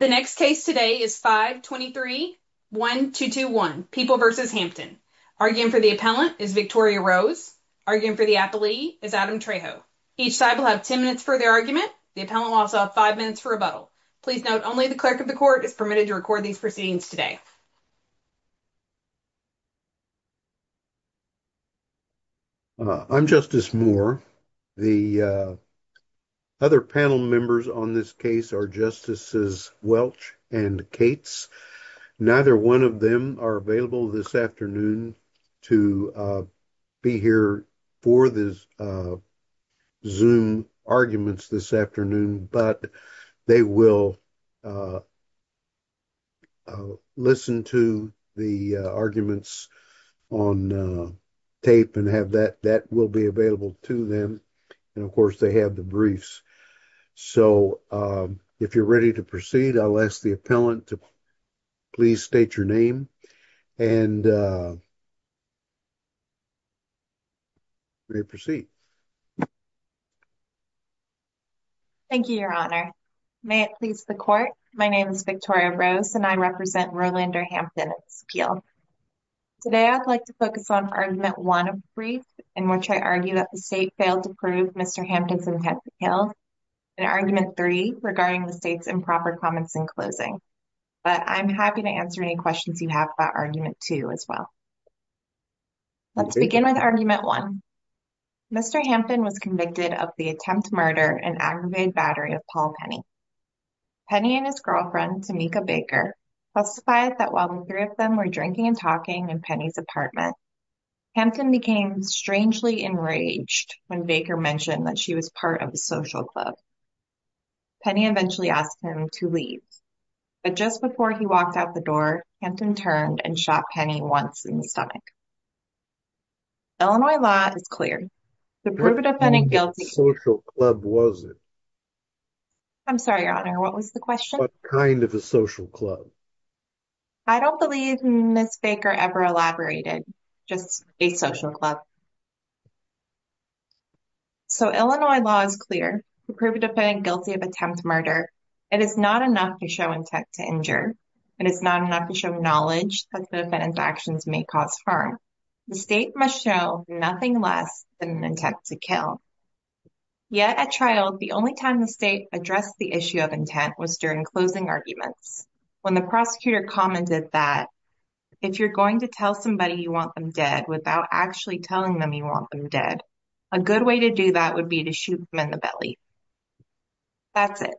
The next case today is 523-1221, People v. Hampton. Arguing for the appellant is Victoria Rose. Arguing for the appellee is Adam Trejo. Each side will have ten minutes for their argument. The appellant will also have five minutes for rebuttal. Please note, only the clerk of the court is permitted to record these proceedings today. I'm Justice Moore. The other panel members on this case are Justices Welch and Cates. Neither one of them are available this afternoon to be here for the Zoom arguments this afternoon. But they will listen to the arguments on tape and have that. That will be available to them. And of course, they have the briefs. So if you're ready to proceed, I'll ask the appellant to please state your name. And you may proceed. Thank you, Your Honor. May it please the court. My name is Victoria Rose, and I represent Rolander Hampton. Today, I'd like to focus on Argument 1 of the brief, in which I argue that the state failed to prove Mr. Hampton's intent to kill. And Argument 3, regarding the state's improper comments in closing. But I'm happy to answer any questions you have about Argument 2 as well. Let's begin with Argument 1. Mr. Hampton was convicted of the attempted murder and aggravated battery of Paul Penny. Penny and his girlfriend, Tamika Baker, testified that while the three of them were drinking and talking in Penny's apartment, Hampton became strangely enraged when Baker mentioned that she was part of the social club. Penny eventually asked him to leave. But just before he walked out the door, Hampton turned and shot Penny once in the stomach. Illinois law is clear. To prove a defendant guilty of attempted murder, it is not enough to show that you are guilty of attempted murder. It is not enough to show intent to injure. And it's not enough to show knowledge that the defendant's actions may cause harm. The state must show nothing less than an intent to kill. Yet, at trial, the only time the state addressed the issue of intent was during closing arguments, when the prosecutor commented that if you're going to tell somebody you want them dead without actually telling them you want them dead, a good way to do that would be to shoot them in the belly. That's it.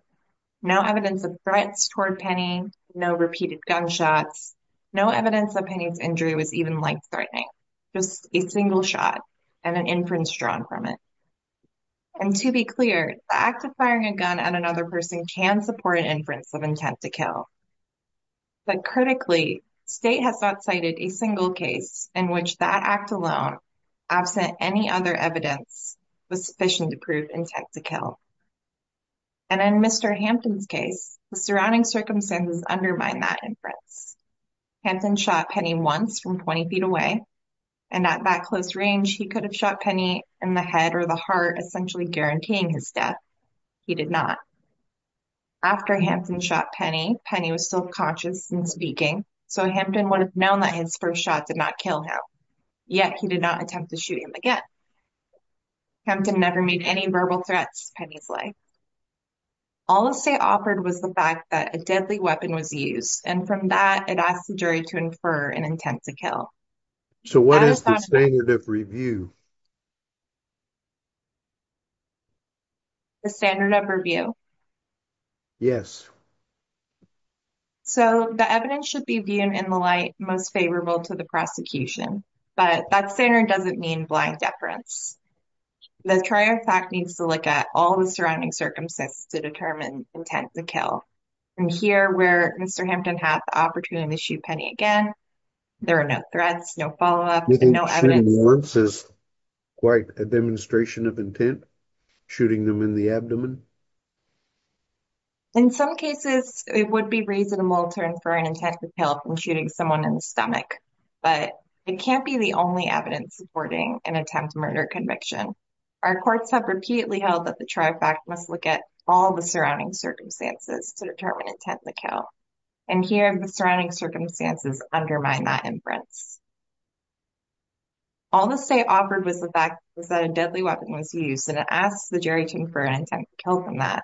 No evidence of threats toward Penny. No repeated gunshots. No evidence that Penny's injury was even life-threatening. Just a single shot and an inference drawn from it. And to be clear, the act of firing a gun at another person can support an inference of intent to kill. But critically, state has not cited a single case in which that act alone, absent any other evidence, was sufficient to prove intent to kill. And in Mr. Hampton's case, the surrounding circumstances undermine that inference. Hampton shot Penny once from 20 feet away. And at that close range, he could have shot Penny in the head or the heart, essentially guaranteeing his death. He did not. After Hampton shot Penny, Penny was still conscious and speaking, so Hampton would have known that his first shot did not kill him. Yet, he did not attempt to shoot him again. Hampton never made any verbal threats to Penny's life. All the state offered was the fact that a deadly weapon was used, and from that, it asked the jury to infer an intent to kill. So what is the standard of review? The standard of review? Yes. So the evidence should be viewed in the light most favorable to the prosecution. But that standard doesn't mean blind deference. The trier of fact needs to look at all the surrounding circumstances to determine intent to kill. And here, where Mr. Hampton had the opportunity to shoot Penny again, there are no threats, no follow-up, no evidence. You think shooting once is quite a demonstration of intent? Shooting them in the abdomen? In some cases, it would be reasonable to infer an intent to kill from shooting someone in the stomach. But it can't be the only evidence supporting an attempt murder conviction. Our courts have repeatedly held that the trier of fact must look at all the surrounding circumstances to determine intent to kill. And here, the surrounding circumstances undermine that inference. All the state offered was the fact that a deadly weapon was used, and it asked the jury to infer an intent to kill from that.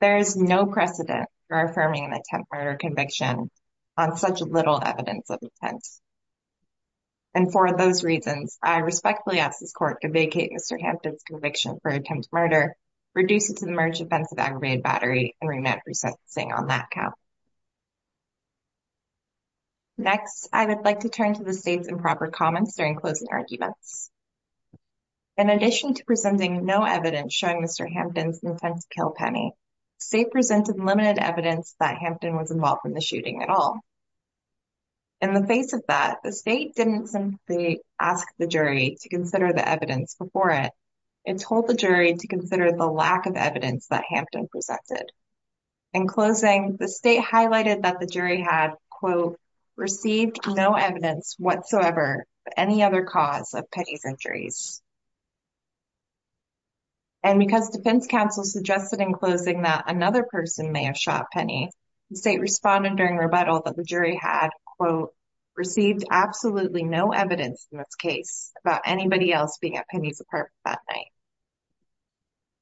There is no precedent for affirming an attempt murder conviction on such little evidence of intent. And for those reasons, I respectfully ask this court to vacate Mr. Hampton's conviction for attempt murder, reduce it to the merge offense of aggravated battery, and remand for sentencing on that count. Next, I would like to turn to the state's improper comments during closing arguments. In addition to presenting no evidence showing Mr. Hampton's intent to kill Penny, the state presented limited evidence that Hampton was involved in the shooting at all. In the face of that, the state didn't simply ask the jury to consider the evidence before it. It told the jury to consider the lack of evidence that Hampton presented. In closing, the state highlighted that the jury had, quote, received no evidence whatsoever of any other cause of Penny's injuries. And because defense counsel suggested in closing that another person may have shot Penny, the state responded during rebuttal that the jury had, quote, received absolutely no evidence in this case about anybody else being at Penny's apartment that night.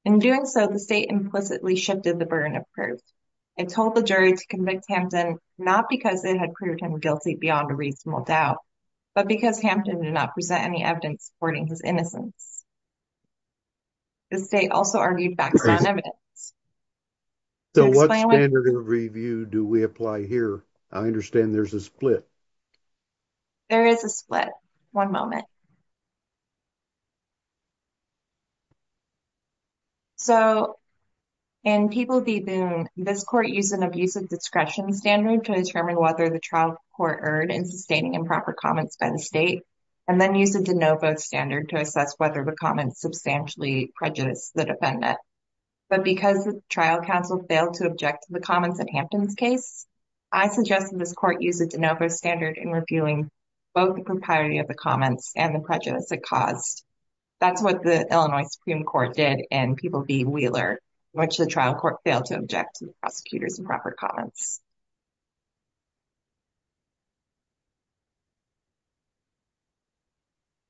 In doing so, the state implicitly shifted the burden of proof and told the jury to convict Hampton not because it had proved him guilty beyond a reasonable doubt, but because Hampton did not present any evidence supporting his innocence. The state also argued background evidence. So what standard of review do we apply here? I understand there's a split. There is a split. One moment. So in People v. Boone, this court used an abusive discretion standard to determine whether the trial court erred in sustaining improper comments by the state and then used a de novo standard to assess whether the comments substantially prejudiced the defendant. But because the trial counsel failed to object to the comments in Hampton's case, I suggested this court use a de novo standard in reviewing both the propriety of the comments and the prejudice it caused. That's what the Illinois Supreme Court did in People v. Wheeler, in which the trial court failed to object to the prosecutor's improper comments.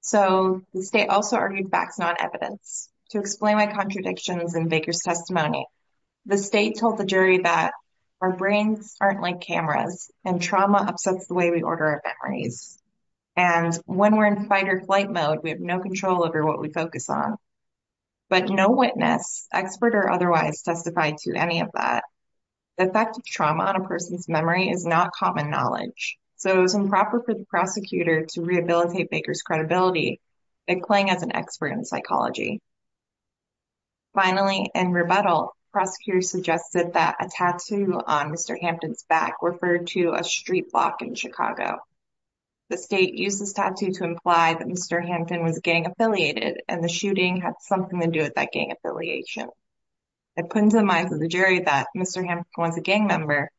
So the state also argued background evidence. To explain my contradictions in Baker's testimony, the state told the jury that our brains aren't like cameras and trauma upsets the way we order our memories. And when we're in fight or flight mode, we have no control over what we focus on. But no witness, expert or otherwise, testified to any of that. The effect of trauma on a person's memory is not common knowledge, so it was improper for the prosecutor to rehabilitate Baker's credibility by playing as an expert in psychology. Finally, in rebuttal, prosecutors suggested that a tattoo on Mr. Hampton's back referred to a street block in Chicago. The state used this tattoo to imply that Mr. Hampton was gang affiliated and the shooting had something to do with that gang affiliation. By putting to the minds of the jury that Mr. Hampton was a gang member,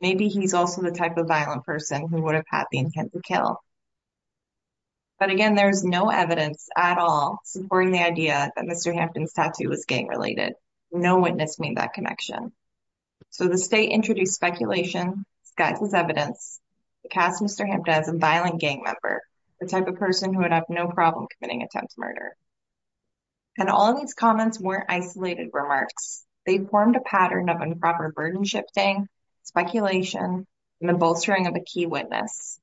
maybe he's also the type of violent person who would have had the intent to kill. But again, there is no evidence at all supporting the idea that Mr. Hampton's tattoo was gang related. No witness made that connection. So the state introduced speculation, disguised as evidence, to cast Mr. Hampton as a violent gang member, the type of person who would have no problem committing attempted murder. And all of these comments weren't isolated remarks. They formed a pattern of improper burden shifting, speculation, and the bolstering of a key witness.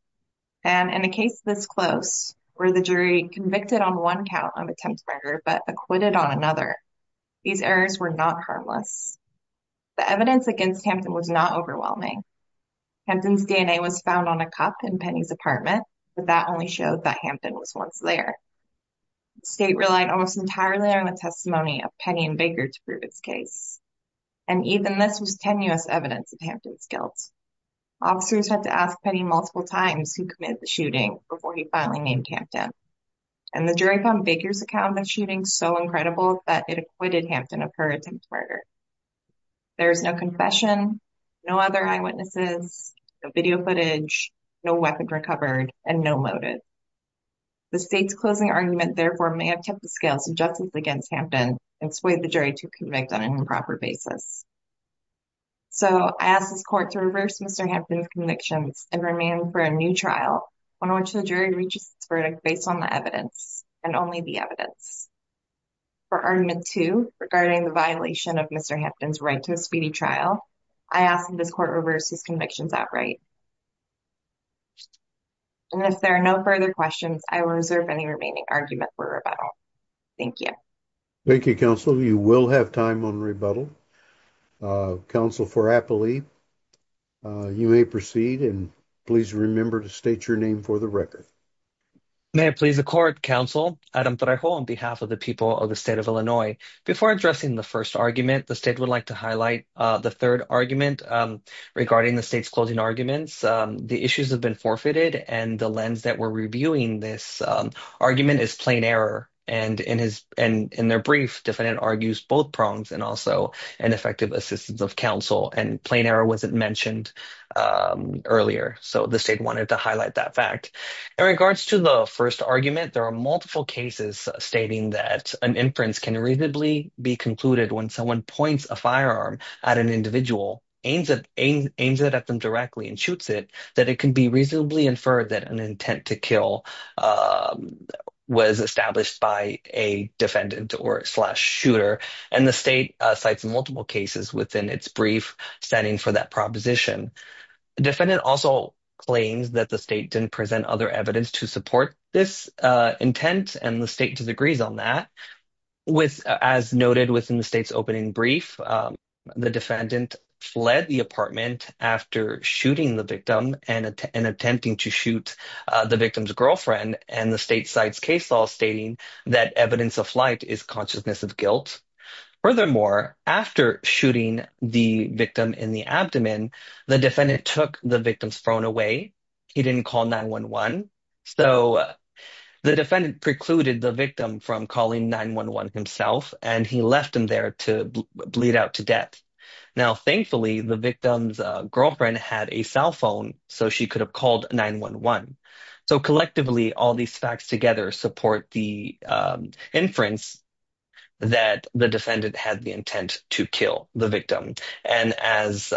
And in a case this close, where the jury convicted on one count of attempted murder but acquitted on another, these errors were not harmless. The evidence against Hampton was not overwhelming. Hampton's DNA was found on a cup in Penny's apartment, but that only showed that Hampton was once there. The state relied almost entirely on the testimony of Penny and Baker to prove its case. And even this was tenuous evidence of Hampton's guilt. Officers had to ask Penny multiple times who committed the shooting before he finally named Hampton. And the jury found Baker's account of the shooting so incredible that it acquitted Hampton of her attempted murder. There is no confession, no other eyewitnesses, no video footage, no weapon recovered, and no motive. The state's closing argument, therefore, may have kept the scales of justice against Hampton and swayed the jury to convict on an improper basis. So, I ask this court to reverse Mr. Hampton's convictions and remain for a new trial, on which the jury reaches its verdict based on the evidence, and only the evidence. For Argument 2, regarding the violation of Mr. Hampton's right to a speedy trial, I ask that this court reverse his convictions outright. And if there are no further questions, I will reserve any remaining argument for rebuttal. Thank you. Thank you, Counsel. You will have time on rebuttal. Counsel for Appley, you may proceed, and please remember to state your name for the record. May it please the court, Counsel Adam Trejo, on behalf of the people of the state of Illinois. Before addressing the first argument, the state would like to highlight the third argument regarding the state's closing arguments. The issues have been forfeited, and the lens that we're reviewing this argument is plain error. And in their brief, defendant argues both prongs and also ineffective assistance of counsel. And plain error wasn't mentioned earlier, so the state wanted to highlight that fact. In regards to the first argument, there are multiple cases stating that an inference can reasonably be concluded when someone points a firearm at an individual, aims it at them directly, and shoots it, that it can be reasonably inferred that an intent to kill was established by a defendant or slash shooter. And the state cites multiple cases within its brief standing for that proposition. Defendant also claims that the state didn't present other evidence to support this intent, and the state disagrees on that. As noted within the state's opening brief, the defendant fled the apartment after shooting the victim and attempting to shoot the victim's girlfriend, and the state cites case law stating that evidence of flight is consciousness of guilt. Furthermore, after shooting the victim in the abdomen, the defendant took the victim's phone away. He didn't call 9-1-1, so the defendant precluded the victim from calling 9-1-1 himself, and he left him there to bleed out to death. Now, thankfully, the victim's girlfriend had a cell phone, so she could have called 9-1-1. So collectively, all these facts together support the inference that the defendant had the intent to kill the victim. And as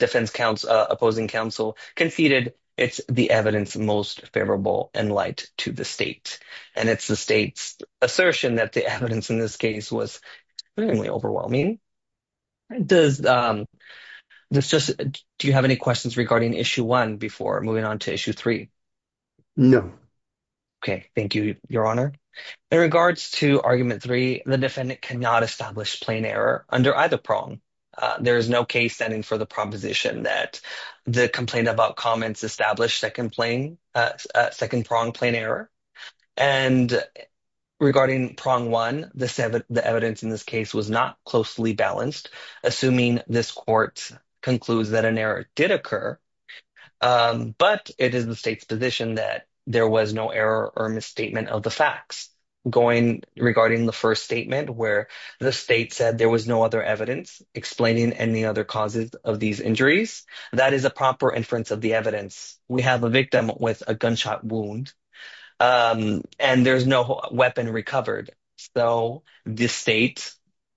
opposing counsel conceded, it's the evidence most favorable in light to the state. And it's the state's assertion that the evidence in this case was extremely overwhelming. Do you have any questions regarding Issue 1 before moving on to Issue 3? No. Okay, thank you, Your Honor. In regards to Argument 3, the defendant cannot establish plain error under either prong. There is no case standing for the proposition that the complaint about comments established second-pronged plain error. And regarding Prong 1, the evidence in this case was not closely balanced, assuming this court concludes that an error did occur. But it is the state's position that there was no error or misstatement of the facts. Regarding the first statement, where the state said there was no other evidence explaining any other causes of these injuries, that is a proper inference of the evidence. We have a victim with a gunshot wound, and there's no weapon recovered. So, the state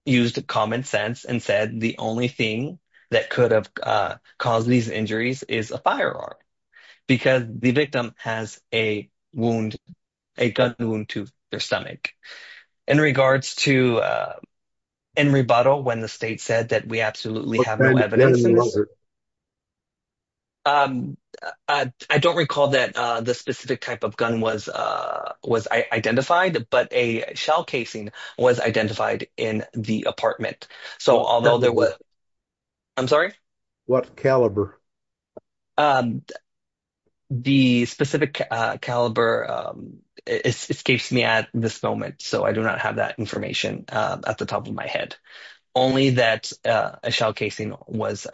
used common sense and said the only thing that could have caused these injuries is a firearm. Because the victim has a gun wound to their stomach. In regards to in rebuttal, when the state said that we absolutely have no evidence. I don't recall that the specific type of gun was identified, but a shell casing was identified in the apartment. I'm sorry? What caliber? The specific caliber escapes me at this moment, so I do not have that information at the top of my head. Only that a shell casing was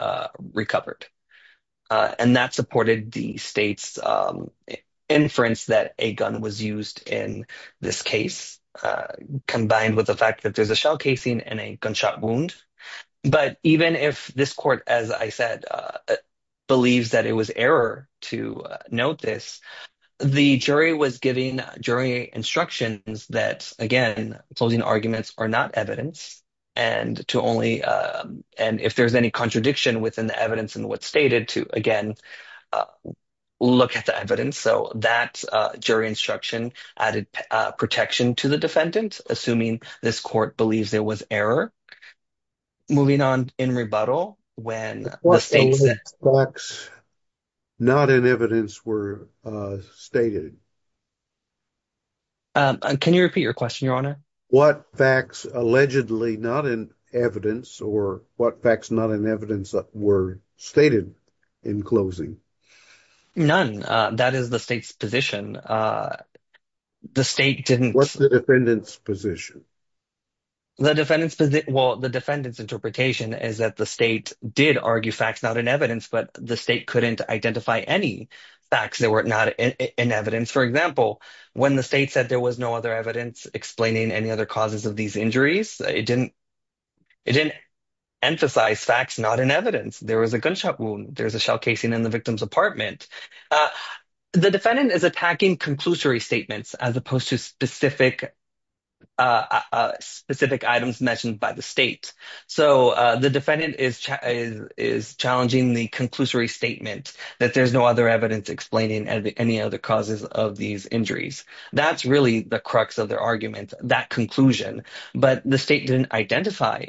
recovered. And that supported the state's inference that a gun was used in this case, combined with the fact that there's a shell casing and a gunshot wound. But even if this court, as I said, believes that it was error to note this. The jury was giving jury instructions that, again, closing arguments are not evidence. And if there's any contradiction within the evidence and what's stated to, again, look at the evidence. So, that jury instruction added protection to the defendant, assuming this court believes there was error. Moving on in rebuttal. What facts not in evidence were stated? Can you repeat your question, Your Honor? What facts allegedly not in evidence or what facts not in evidence were stated in closing? None. That is the state's position. What's the defendant's position? The defendant's interpretation is that the state did argue facts not in evidence, but the state couldn't identify any facts that were not in evidence. For example, when the state said there was no other evidence explaining any other causes of these injuries, it didn't emphasize facts not in evidence. There was a gunshot wound. There was a shell casing in the victim's apartment. The defendant is attacking conclusory statements as opposed to specific items mentioned by the state. So, the defendant is challenging the conclusory statement that there's no other evidence explaining any other causes of these injuries. That's really the crux of their argument, that conclusion. But the state didn't identify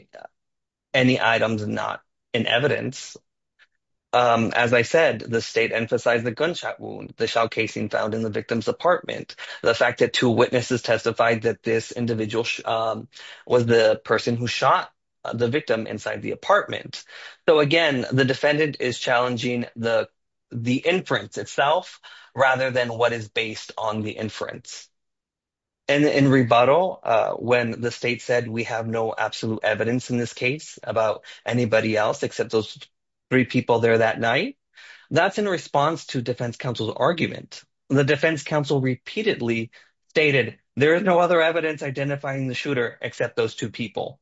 any items not in evidence. As I said, the state emphasized the gunshot wound, the shell casing found in the victim's apartment, the fact that two witnesses testified that this individual was the person who shot the victim inside the apartment. So, again, the defendant is challenging the inference itself rather than what is based on the inference. In rebuttal, when the state said we have no absolute evidence in this case about anybody else except those three people there that night, that's in response to defense counsel's argument. The defense counsel repeatedly stated there is no other evidence identifying the shooter except those two people.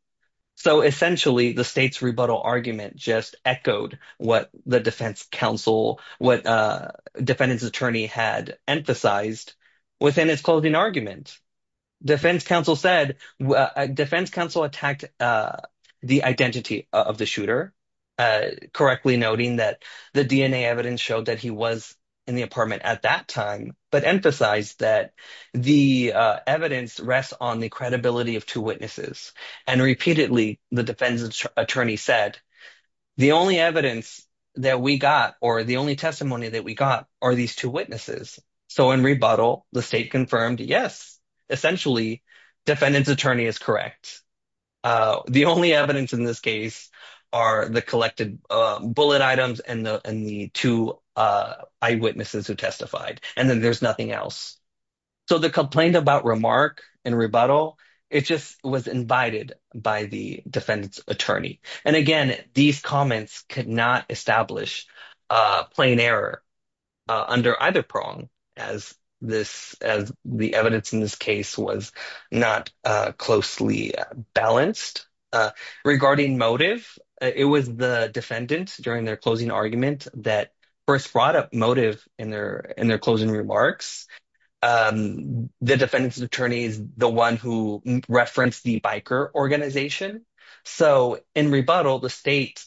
So, essentially, the state's rebuttal argument just echoed what the defense counsel, what the defendant's attorney had emphasized within its closing argument. Defense counsel said, defense counsel attacked the identity of the shooter, correctly noting that the DNA evidence showed that he was in the apartment at that time, but emphasized that the evidence rests on the credibility of two witnesses. And repeatedly, the defense attorney said the only evidence that we got or the only testimony that we got are these two witnesses. So, in rebuttal, the state confirmed, yes, essentially, defendant's attorney is correct. The only evidence in this case are the collected bullet items and the two eyewitnesses who testified. And then there's nothing else. So, the complaint about remark in rebuttal, it just was invited by the defendant's attorney. And, again, these comments could not establish plain error under either prong as the evidence in this case was not closely balanced. Regarding motive, it was the defendant during their closing argument that first brought up motive in their closing remarks. The defendant's attorney is the one who referenced the biker organization. So, in rebuttal, the state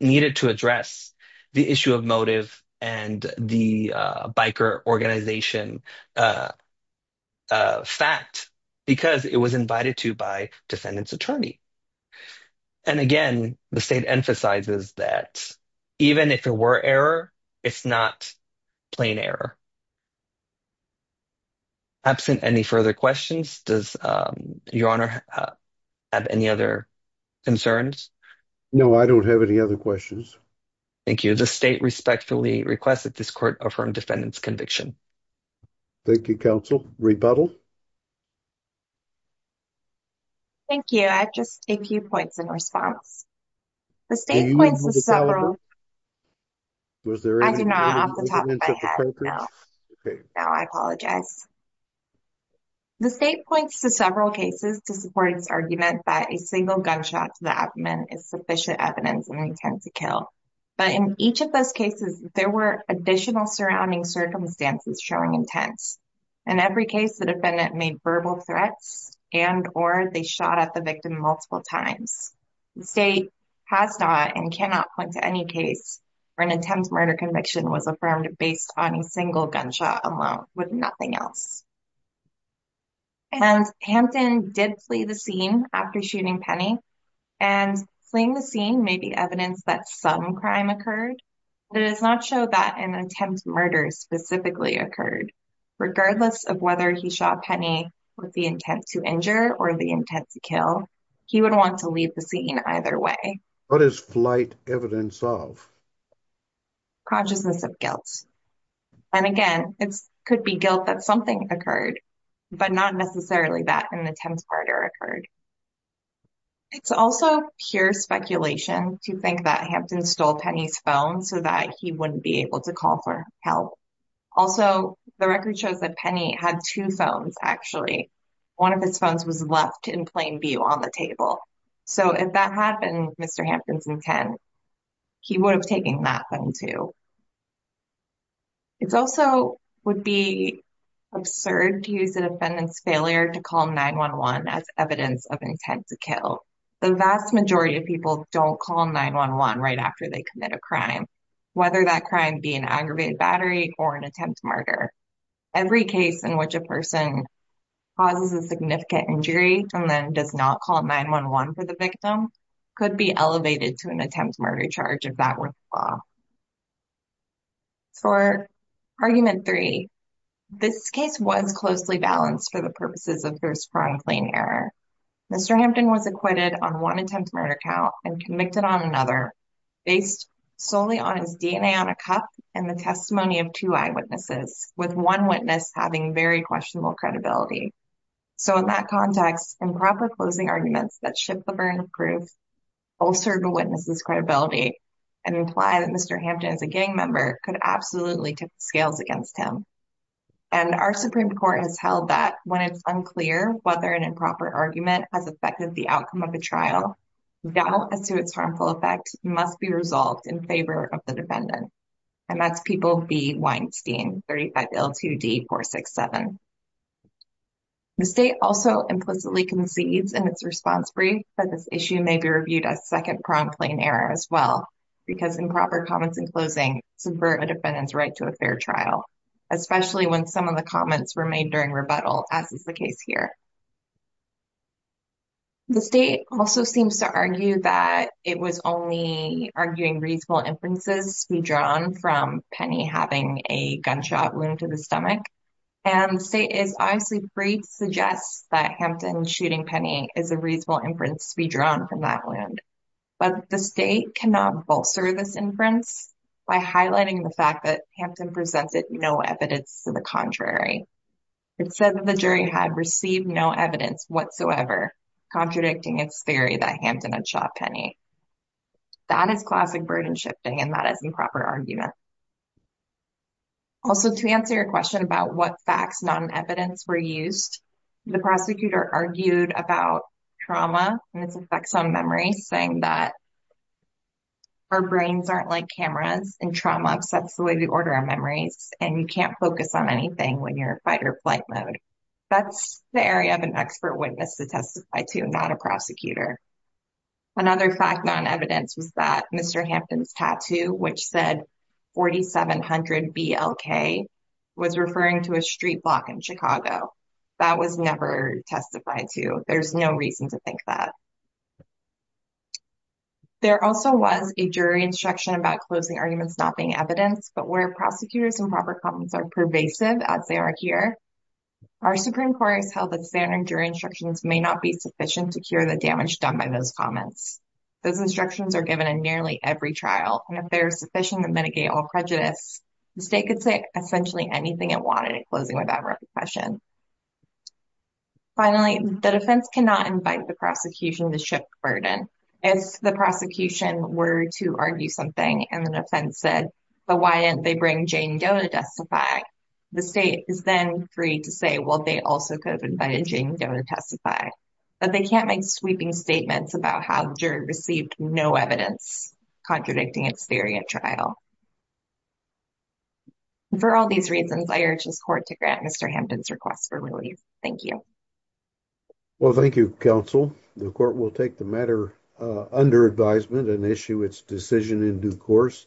needed to address the issue of motive and the biker organization fact because it was invited to by defendant's attorney. And, again, the state emphasizes that even if there were error, it's not plain error. Absent any further questions, does your honor have any other concerns? No, I don't have any other questions. Thank you. The state respectfully requests that this court affirm defendant's conviction. Thank you, counsel. Rebuttal? Thank you. I have just a few points in response. The state points to several cases to support its argument that a single gunshot to the abdomen is sufficient evidence of an intent to kill. But in each of those cases, there were additional surrounding circumstances showing intent. In every case, the defendant made verbal threats and or they shot at the victim multiple times. The state has not and cannot point to any case where an attempt murder conviction was affirmed based on a single gunshot alone with nothing else. And Hampton did flee the scene after shooting Penny. And fleeing the scene may be evidence that some crime occurred, but it does not show that an attempt murder specifically occurred. Regardless of whether he shot Penny with the intent to injure or the intent to kill, he would want to leave the scene either way. What is flight evidence of? Consciousness of guilt. And again, it could be guilt that something occurred, but not necessarily that an attempt murder occurred. It's also pure speculation to think that Hampton stole Penny's phone so that he wouldn't be able to call for help. Also, the record shows that Penny had two phones actually. One of his phones was left in plain view on the table. So if that had been Mr. Hampton's intent, he would have taken that phone too. It also would be absurd to use the defendant's failure to call 911 as evidence of intent to kill. The vast majority of people don't call 911 right after they commit a crime. Whether that crime be an aggravated battery or an attempt murder. Every case in which a person causes a significant injury and then does not call 911 for the victim could be elevated to an attempt murder charge if that were the law. For argument three, this case was closely balanced for the purposes of first-pronged claim error. Mr. Hampton was acquitted on one attempt murder count and convicted on another based solely on his DNA on a cup and the testimony of two eyewitnesses, with one witness having very questionable credibility. So in that context, improper closing arguments that shift the burden of proof ulcer the witness's credibility and imply that Mr. Hampton is a gang member could absolutely tip the scales against him. And our Supreme Court has held that when it's unclear whether an improper argument has affected the outcome of a trial, doubt as to its harmful effect must be resolved in favor of the defendant. And that's People v. Weinstein, 35L2D467. The state also implicitly concedes in its response brief that this issue may be reviewed as second-pronged claim error as well. Because improper comments in closing subvert a defendant's right to a fair trial, especially when some of the comments were made during rebuttal, as is the case here. The state also seems to argue that it was only arguing reasonable inferences to be drawn from Penny having a gunshot wound to the stomach. And the state is obviously free to suggest that Hampton shooting Penny is a reasonable inference to be drawn from that wound. But the state cannot bolster this inference by highlighting the fact that Hampton presented no evidence to the contrary. It said that the jury had received no evidence whatsoever contradicting its theory that Hampton had shot Penny. That is classic burden shifting, and that is improper argument. Also, to answer your question about what facts not in evidence were used, the prosecutor argued about trauma and its effects on memory, saying that our brains aren't like cameras, and trauma upsets the way we order our memories, and you can't focus on anything when you're in fight-or-flight mode. That's the area of an expert witness to testify to, not a prosecutor. Another fact not in evidence was that Mr. Hampton's tattoo, which said 4700 BLK, was referring to a street block in Chicago. That was never testified to. There's no reason to think that. There also was a jury instruction about closing arguments not being evidence, but where prosecutors' improper comments are pervasive, as they are here, our Supreme Court has held that standard jury instructions may not be sufficient to cure the damage done by those comments. Those instructions are given in nearly every trial, and if they are sufficient to mitigate all prejudice, the state could say essentially anything it wanted in closing with that question. Finally, the defense cannot invite the prosecution to shift burden. If the prosecution were to argue something, and the defense said, but why didn't they bring Jane Doe to testify, the state is then free to say, well, they also could have invited Jane Doe to testify. But they can't make sweeping statements about how the jury received no evidence contradicting its theory at trial. For all these reasons, I urge this court to grant Mr. Hampton's request for relief. Thank you. Well, thank you, counsel. The court will take the matter under advisement and issue its decision in due course.